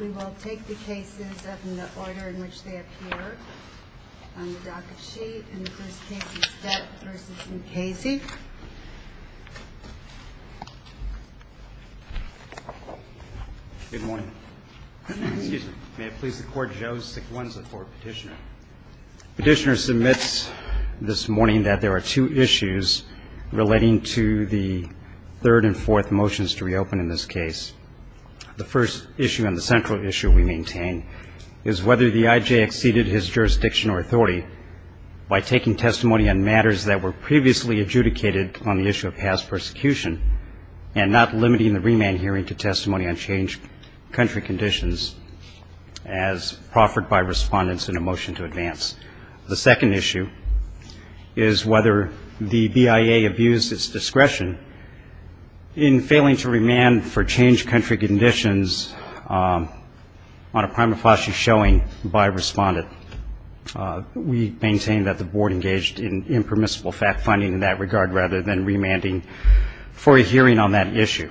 We will take the cases in the order in which they appear on the docket sheet. And the first case is Dutt v. Mckaysey. Good morning. May it please the Court, Joe Sequenza for petitioner. Petitioner submits this morning that there are two issues relating to the third and fourth motions to reopen in this case. The first issue and the central issue we maintain is whether the I.J. exceeded his jurisdiction or authority by taking testimony on matters that were previously adjudicated on the issue of past persecution and not limiting the remand hearing to testimony on changed country conditions as proffered by respondents in a motion to advance. The second issue is whether the BIA abused its discretion in failing to remand for changed country conditions on a prima facie showing by a respondent. We maintain that the Board engaged in impermissible fact-finding in that regard rather than remanding for a hearing on that issue.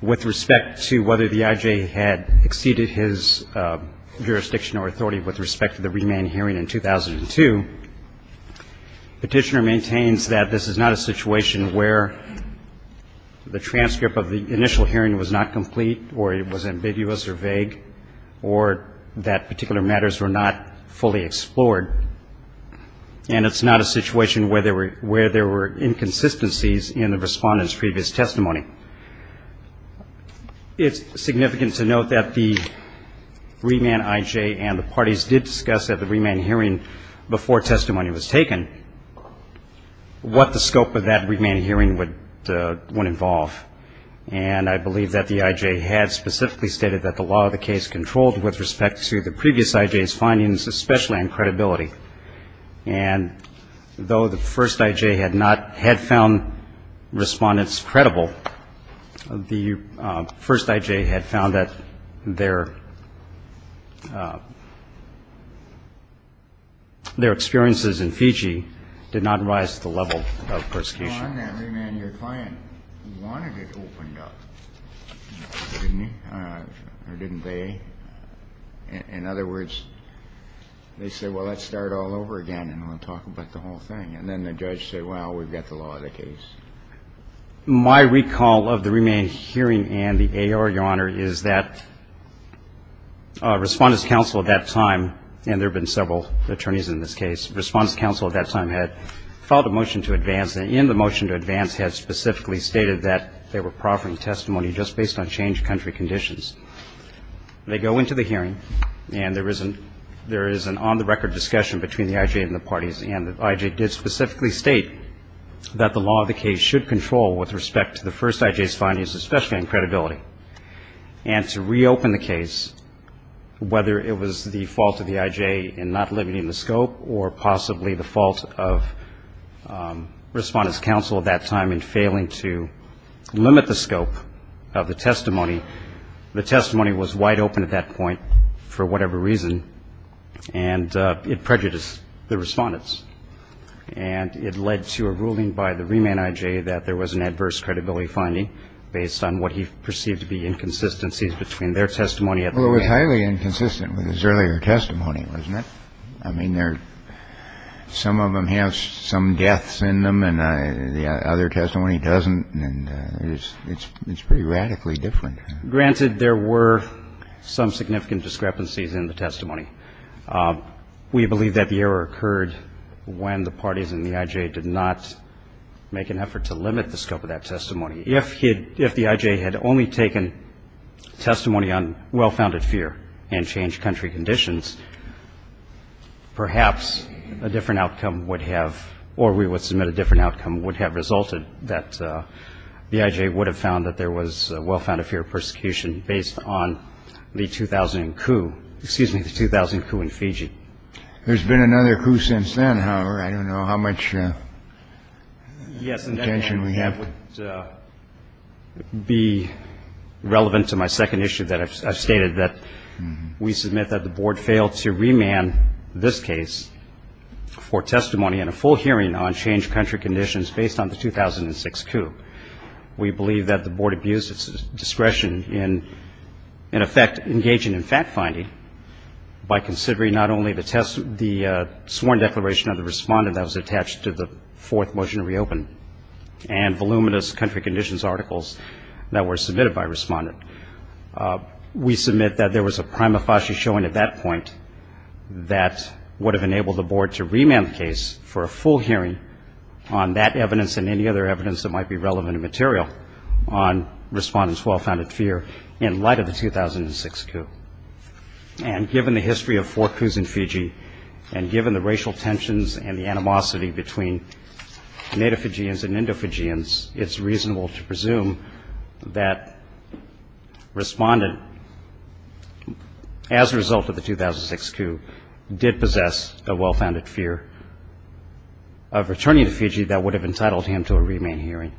With respect to whether the I.J. had exceeded his jurisdiction or authority with respect to the remand hearing in 2002, petitioner maintains that this is not a situation where the transcript of the initial hearing was not complete or it was ambiguous or vague or that particular matters were not fully explored, and it's not a situation where there were inconsistencies in the respondent's previous testimony. It's significant to note that the remand I.J. and the parties did discuss at the remand hearing before testimony was taken what the scope of that remand hearing would involve, and I believe that the I.J. had specifically stated that the law of the case controlled with respect to the previous I.J.'s findings, especially on credibility. And though the first I.J. had found respondents credible, the first I.J. had found that their experiences in Fiji did not rise to the level of persecution. In other words, they said, well, let's start all over again, and we'll talk about the whole thing. And then the judge said, well, we've got the law of the case. My recall of the remand hearing and the A.R., Your Honor, is that Respondent's Counsel at that time, and there have been several attorneys in this case, Respondent's Counsel at that time had filed a motion to advance, and in the motion to advance had specifically stated that they were proffering testimony just based on changed country conditions. They go into the hearing, and there is an on-the-record discussion between the I.J. and the parties, and the I.J. did specifically state that the law of the case should control with respect to the first I.J.'s findings, especially on credibility. And to reopen the case, whether it was the fault of the I.J. in not limiting the scope or possibly the fault of Respondent's Counsel at that time in failing to limit the scope of the testimony, the testimony was wide open at that point for whatever reason, and it prejudiced the Respondents. And it led to a ruling by the remand I.J. that there was an adverse credibility finding based on what he perceived to be inconsistencies between their testimony at the time. Well, it was highly inconsistent with his earlier testimony, wasn't it? I mean, some of them have some deaths in them, and the other testimony doesn't, and it's pretty radically different. Granted, there were some significant discrepancies in the testimony. We believe that the error occurred when the parties in the I.J. did not make an effort to limit the scope of that testimony. If the I.J. had only taken testimony on well-founded fear and changed country conditions, perhaps a different outcome would have, or we would submit a different outcome, would have resulted that the I.J. would have found that there was well-founded fear of persecution based on the 2000 coup, excuse me, the 2000 coup in Fiji. There's been another coup since then, however. I don't know how much attention we have. It would be relevant to my second issue that I've stated, that we submit that the Board failed to remand this case for testimony and a full hearing on changed country conditions based on the 2006 coup. We believe that the Board abused its discretion in, in effect, engaging in fact-finding by considering not only the sworn declaration of the respondent that was attached to the fourth motion to reopen and voluminous country conditions articles that were submitted by a respondent. We submit that there was a prima facie showing at that point that would have enabled the Board to remand the case for a full hearing on that evidence and any other evidence that might be relevant and material on respondents' well-founded fear in light of the 2006 coup. And given the history of four coups in Fiji and given the racial tensions and the animosity between Native Fijians and Indo-Fijians, it's reasonable to presume that respondent, as a result of the 2006 coup, did possess a well-founded fear of returning to Fiji that would have entitled him to a remand hearing.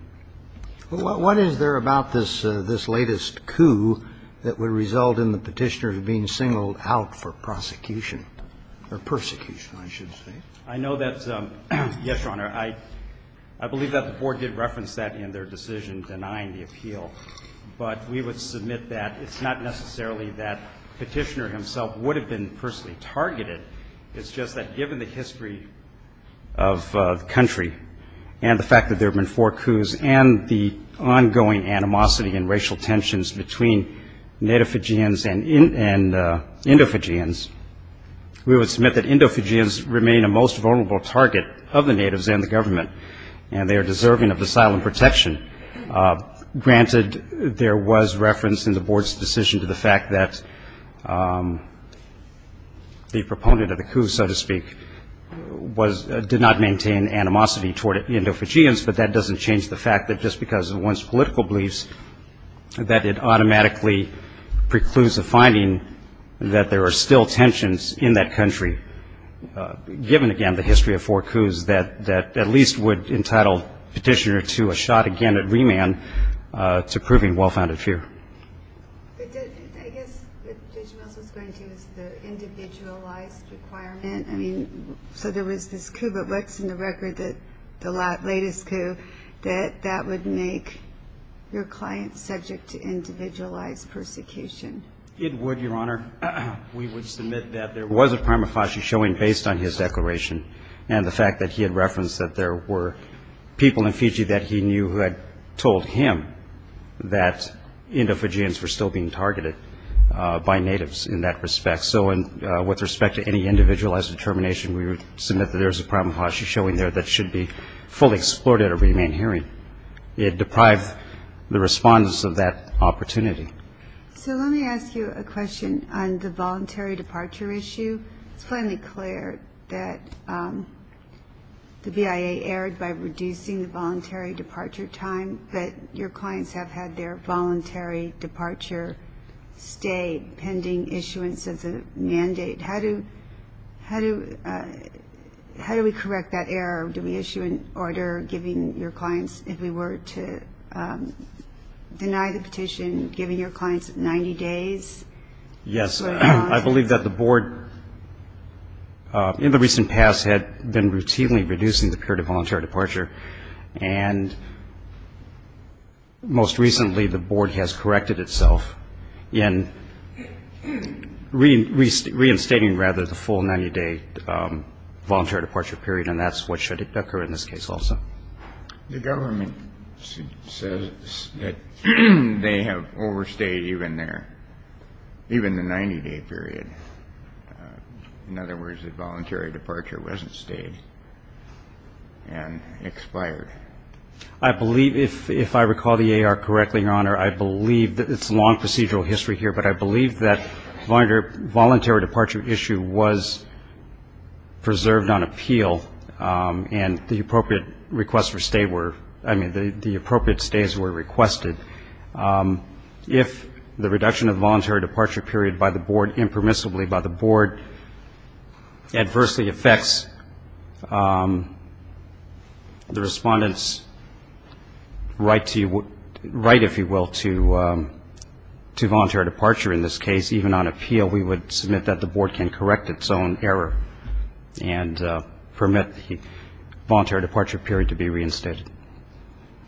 What is there about this latest coup that would result in the Petitioner being singled out for prosecution or persecution, I should say? I know that, yes, Your Honor, I believe that the Board did reference that in their decision denying the appeal. But we would submit that it's not necessarily that Petitioner himself would have been personally targeted. It's just that given the history of the country and the fact that there have been four coups and the ongoing animosity and racial tensions between Native Fijians and Indo-Fijians, we would submit that Indo-Fijians remain a most vulnerable target of the Natives and the government, and they are deserving of asylum protection. Granted, there was reference in the Board's decision to the fact that the proponent of the coup, so to speak, did not maintain animosity toward Indo-Fijians, but that doesn't change the fact that just because of one's political beliefs, that it automatically precludes the finding that there are still tensions in that country, given, again, the history of four coups, that at least would entitle Petitioner to a shot again at remand to proving well-founded fear. I guess what Judge Mills was going to is the individualized requirement. I mean, so there was this coup, but what's in the record, the latest coup, that that would make your client subject to individualized persecution? It would, Your Honor. We would submit that there was a prima facie showing based on his declaration and the fact that he had referenced that there were people in Fiji that he knew had told him that Indo-Fijians were still being targeted by Natives in that respect. So with respect to any individualized determination, we would submit that there is a prima facie showing there that should be fully explored at a remand hearing. It deprived the respondents of that opportunity. So let me ask you a question on the voluntary departure issue. It's plainly clear that the BIA erred by reducing the voluntary departure time, but your clients have had their voluntary departure stay pending issuance as a mandate. How do we correct that error? Do we issue an order giving your clients, if we were to deny the petition, giving your clients 90 days? Yes. I believe that the Board, in the recent past, had been routinely reducing the period of voluntary departure, and most recently the Board has corrected itself in reinstating, rather, the full 90-day voluntary departure period, and that's what should occur in this case also. The government says that they have overstayed even the 90-day period. In other words, the voluntary departure wasn't stayed and expired. I believe, if I recall the AR correctly, Your Honor, I believe that it's a long procedural history here, but I believe that the voluntary departure issue was preserved on appeal and the appropriate stays were requested. If the reduction of the voluntary departure period by the Board, impermissibly by the Board, adversely affects the Respondent's right, if you will, to voluntary departure in this case, even on appeal, we would submit that the Board can correct its own error and permit the voluntary departure period to be reinstated.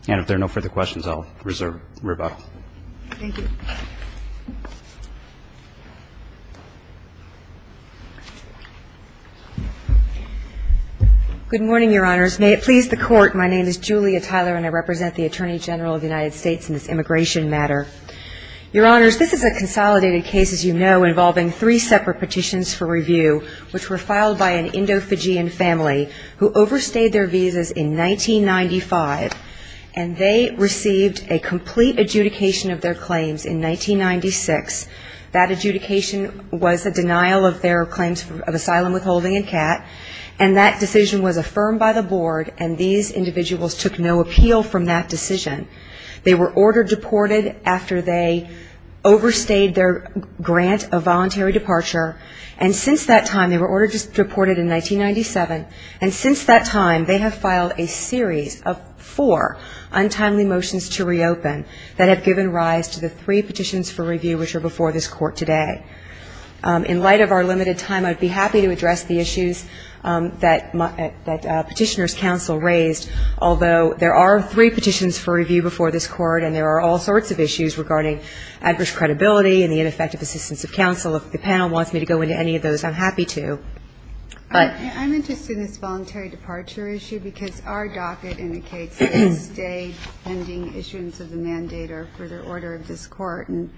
And if there are no further questions, I'll reserve rebuttal. Thank you. Good morning, Your Honors. May it please the Court, my name is Julia Tyler, and I represent the Attorney General of the United States in this immigration matter. Your Honors, this is a consolidated case, as you know, involving three separate petitions for review, which were filed by an Indo-Fijian family who overstayed their visas in 1995, and they received a complete adjudication of their claims in 1996. That adjudication was a denial of their claims of asylum withholding and CAT, and that decision was affirmed by the Board, and these individuals took no appeal from that decision. They were ordered deported after they overstayed their grant of voluntary departure, and since that time, they were ordered deported in 1997, and since that time, they have filed a series of four untimely motions to reopen that have given rise to the three petitions for review which are before this Court today. In light of our limited time, I'd be happy to address the issues that Petitioner's Counsel raised, although there are three petitions for review before this Court, and there are all sorts of issues regarding adverse credibility and the ineffective assistance of counsel. If the panel wants me to go into any of those, I'm happy to. I'm interested in this voluntary departure issue because our docket indicates that it stayed pending issuance of the mandator for the order of this Court, and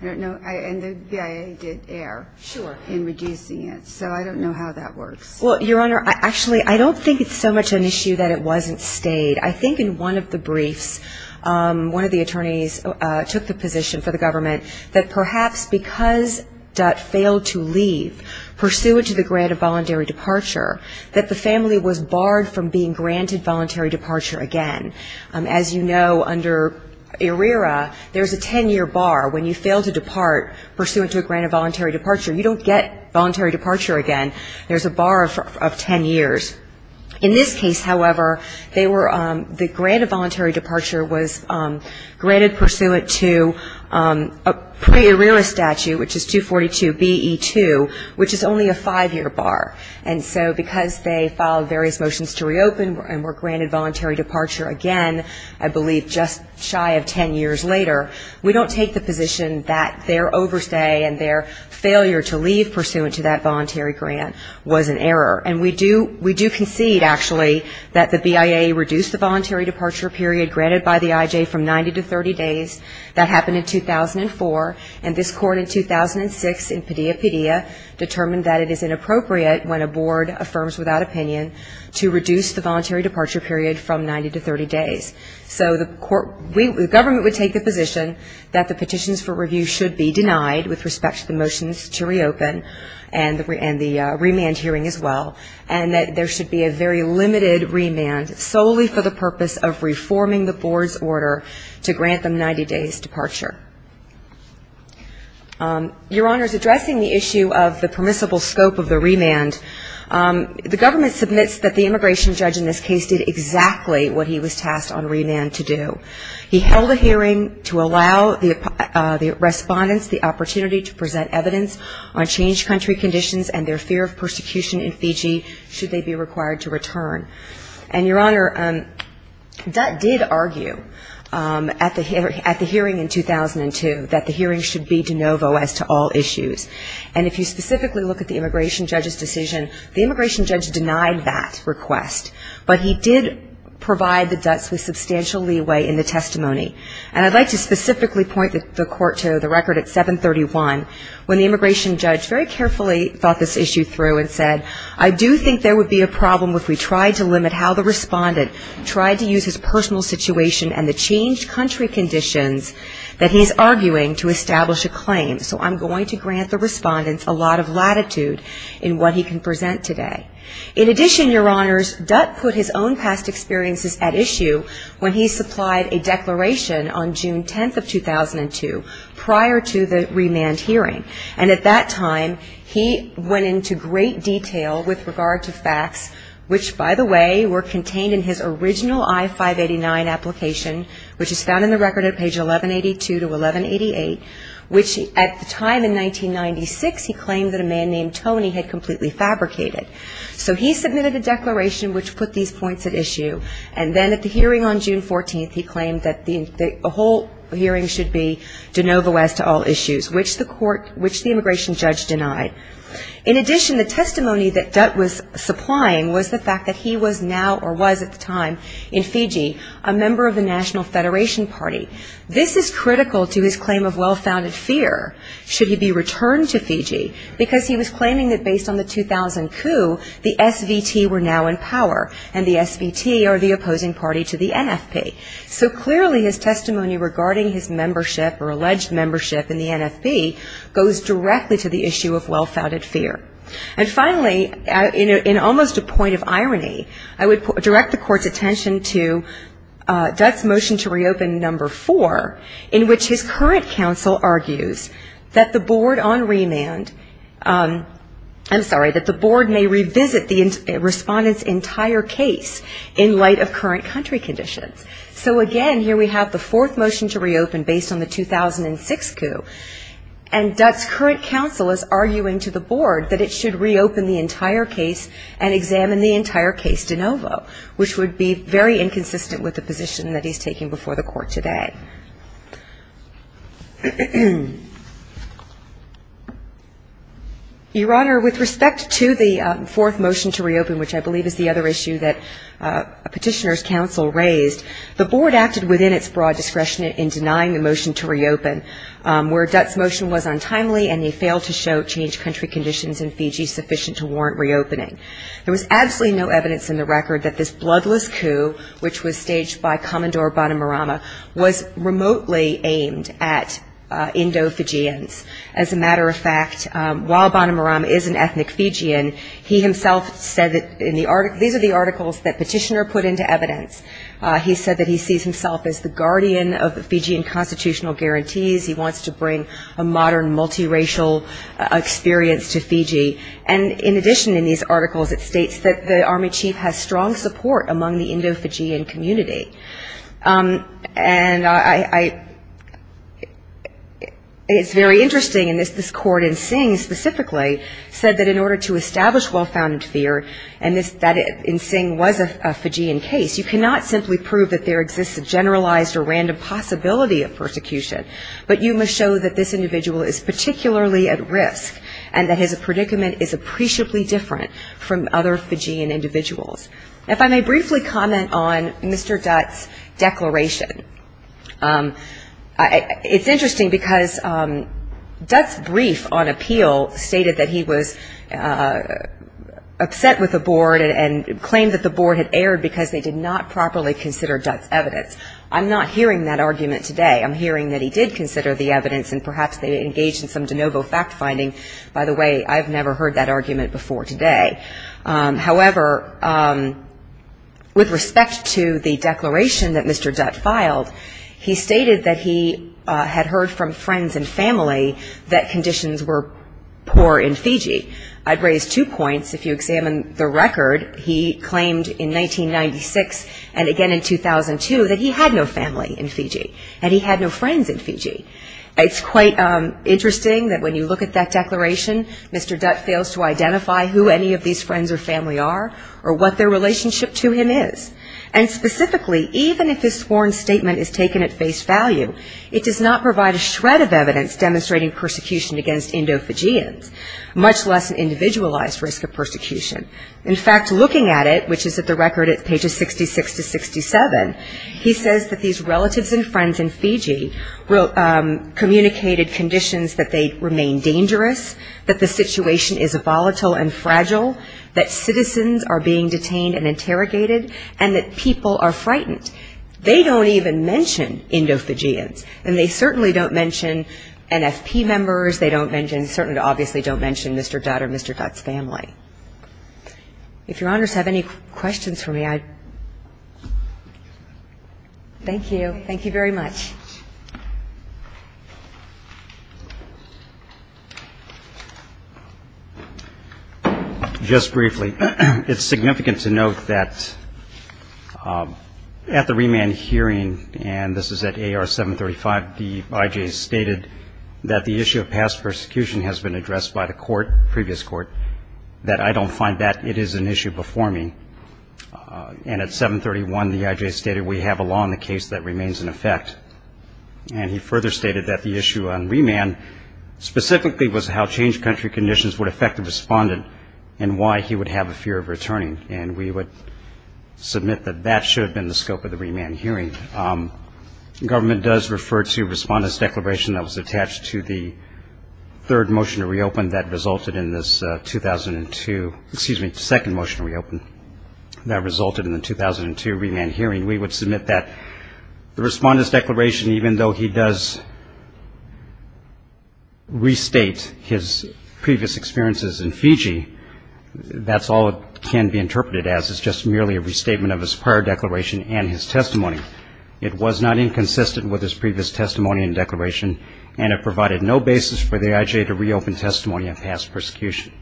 the BIA did err in reducing it, so I don't know how that works. Well, Your Honor, actually, I don't think it's so much an issue that it wasn't stayed. I think in one of the briefs, one of the attorneys took the position for the government that perhaps because Dutt failed to leave pursuant to the grant of voluntary departure, that the family was barred from being granted voluntary departure again. As you know, under ERIRA, there's a ten-year bar. When you fail to depart pursuant to a grant of voluntary departure, you don't get voluntary departure again. There's a bar of ten years. In this case, however, the grant of voluntary departure was granted pursuant to a pre-ERIRA statute, which is 242BE2, which is only a five-year bar. And so because they filed various motions to reopen and were granted voluntary departure again, I believe just shy of ten years later, we don't take the position that their overstay and their failure to leave pursuant to that voluntary grant was an error. And we do concede, actually, that the BIA reduced the voluntary departure period granted by the IJ from 90 to 30 days. That happened in 2004. And this Court in 2006 in Padilla-Padilla determined that it is inappropriate when a board affirms without opinion to reduce the voluntary departure period from 90 to 30 days. So the government would take the position that the petitions for review should be denied with respect to the motions to reopen and the remand hearing as well, and that there should be a very limited remand solely for the purpose of reforming the board's order to grant them 90 days' departure. Your Honors, addressing the issue of the permissible scope of the remand, the government submits that the immigration judge in this case did exactly what he was tasked on remand to do. He held a hearing to allow the respondents the opportunity to present evidence on changed country conditions and their fear of persecution in Fiji should they be required to return. And, Your Honor, Dutt did argue at the hearing in 2002 that the hearing should be de novo as to all issues. And if you specifically look at the immigration judge's decision, the immigration judge denied that request, but he did provide the Dutts with substantial leeway in the testimony. And I'd like to specifically point the court to the record at 731 when the immigration judge very carefully thought this issue through and said, I do think there would be a problem if we tried to limit how the respondent tried to use his personal situation and the changed country conditions that he's arguing to establish a claim. So I'm going to grant the respondents a lot of latitude in what he can present today. In addition, Your Honors, Dutt put his own past experiences at issue when he supplied a declaration on June 10th of 2002 prior to the remand hearing. And at that time he went into great detail with regard to facts, which, by the way, were contained in his original I-589 application, which is found in the record at page 1182 to 1188, which at the time in 1996 he claimed that a man named Dutt was a member of the National Federation Party. So he submitted a declaration which put these points at issue, and then at the hearing on June 14th he claimed that the whole hearing should be de novo as to all issues, which the immigration judge denied. In addition, the testimony that Dutt was supplying was the fact that he was now or was at the time in Fiji a member of the National Federation Party. The SVT were now in power, and the SVT are the opposing party to the NFP. So clearly his testimony regarding his membership or alleged membership in the NFP goes directly to the issue of well-founded fear. And finally, in almost a point of irony, I would direct the Court's attention to Dutt's motion to reopen number four, in which his testimony was that he would revisit the respondent's entire case in light of current country conditions. So again, here we have the fourth motion to reopen based on the 2006 coup, and Dutt's current counsel is arguing to the board that it should reopen the entire case and examine the entire case de novo, which would be very inconsistent with the position that he's taking before the Court today. Your Honor, with respect to the fourth motion to reopen, which I believe is the other issue that Petitioner's counsel raised, the board acted within its broad discretion in denying the motion to reopen, where Dutt's motion was untimely and they failed to show changed country conditions in Fiji sufficient to warrant reopening. There was absolutely no evidence in the record that this bloodless coup, which was staged by Commodore Bonomarama, was remotely aimed at Indo-Fijians. As a matter of fact, while Bonomarama is an ethnic Fijian, he himself said that these are the articles that Petitioner put into evidence. He said that he sees himself as the guardian of the Fijian constitutional guarantees. He wants to bring a modern multiracial experience to Fiji. And in addition in these articles, it states that the Army chief has strong support among the Indo-Fijian community. And I — it's very interesting, and this Court in Sing specifically said that in order to establish well-founded fear, and that in Sing was a Fijian case, you cannot simply prove that there exists a generalized or random possibility of persecution, but you must show that this individual is particularly at risk and that his predicament is appreciably different from other Fijian individuals. If I may briefly comment on Mr. Dutt's declaration. It's interesting because Dutt's brief on appeal stated that he was upset with the board and claimed that the board had erred because they did not properly consider Dutt's evidence. I'm not hearing that argument today. I'm hearing that he did consider the evidence, and perhaps they engaged in some de novo fact-finding. By the way, I've never heard that argument before today. However, with respect to the declaration that Mr. Dutt filed, he stated that he had heard from friends and family that conditions were poor in Fiji. I'd raise two points. If you examine the record, he claimed in 1996 and again in 2002 that he had no family in Fiji and he had no friends in Fiji. It's quite interesting that when you look at that declaration, Mr. Dutt fails to identify who any of these friends or family are or what their relationship to him is. And specifically, even if his sworn statement is taken at face value, it does not provide a shred of evidence demonstrating persecution against Indo-Fijians, much less an individualized risk of persecution. In fact, looking at it, which is at the record at pages 66 to 67, he says that these relatives and friends in Fiji communicated conditions that they remain dangerous, that the situation is volatile and fragile, that citizens are being detained and interrogated, and that people are frightened. They don't even mention Indo-Fijians, and they certainly don't mention NFP members. They don't mention Mr. Dutt or Mr. Dutt's family. If Your Honors have any questions for me, I'd ---- Thank you. Thank you very much. Just briefly, it's significant to note that at the remand hearing, and this is at AR 735, the I.J. stated that the issue of past persecution has been addressed by the court, previous court, that I don't find that it is an issue before me. And at 731, the I.J. stated we have a law in the case that remains in effect. And he further stated that the issue on remand specifically was how changed country conditions would affect the respondent and why he would have a fear of returning, and we would submit that that should have been the scope of the remand hearing. Government does refer to respondent's declaration that was attached to the third motion to reopen that resulted in this 2002 remand hearing. We would submit that the respondent's declaration, even though he does restate his previous experiences in Fiji, that's all it can be interpreted as, is just merely a restatement of his prior declaration and his testimony. It was not inconsistent with his previous testimony and declaration, and it provided no basis for the I.J. to reopen testimony on past persecution.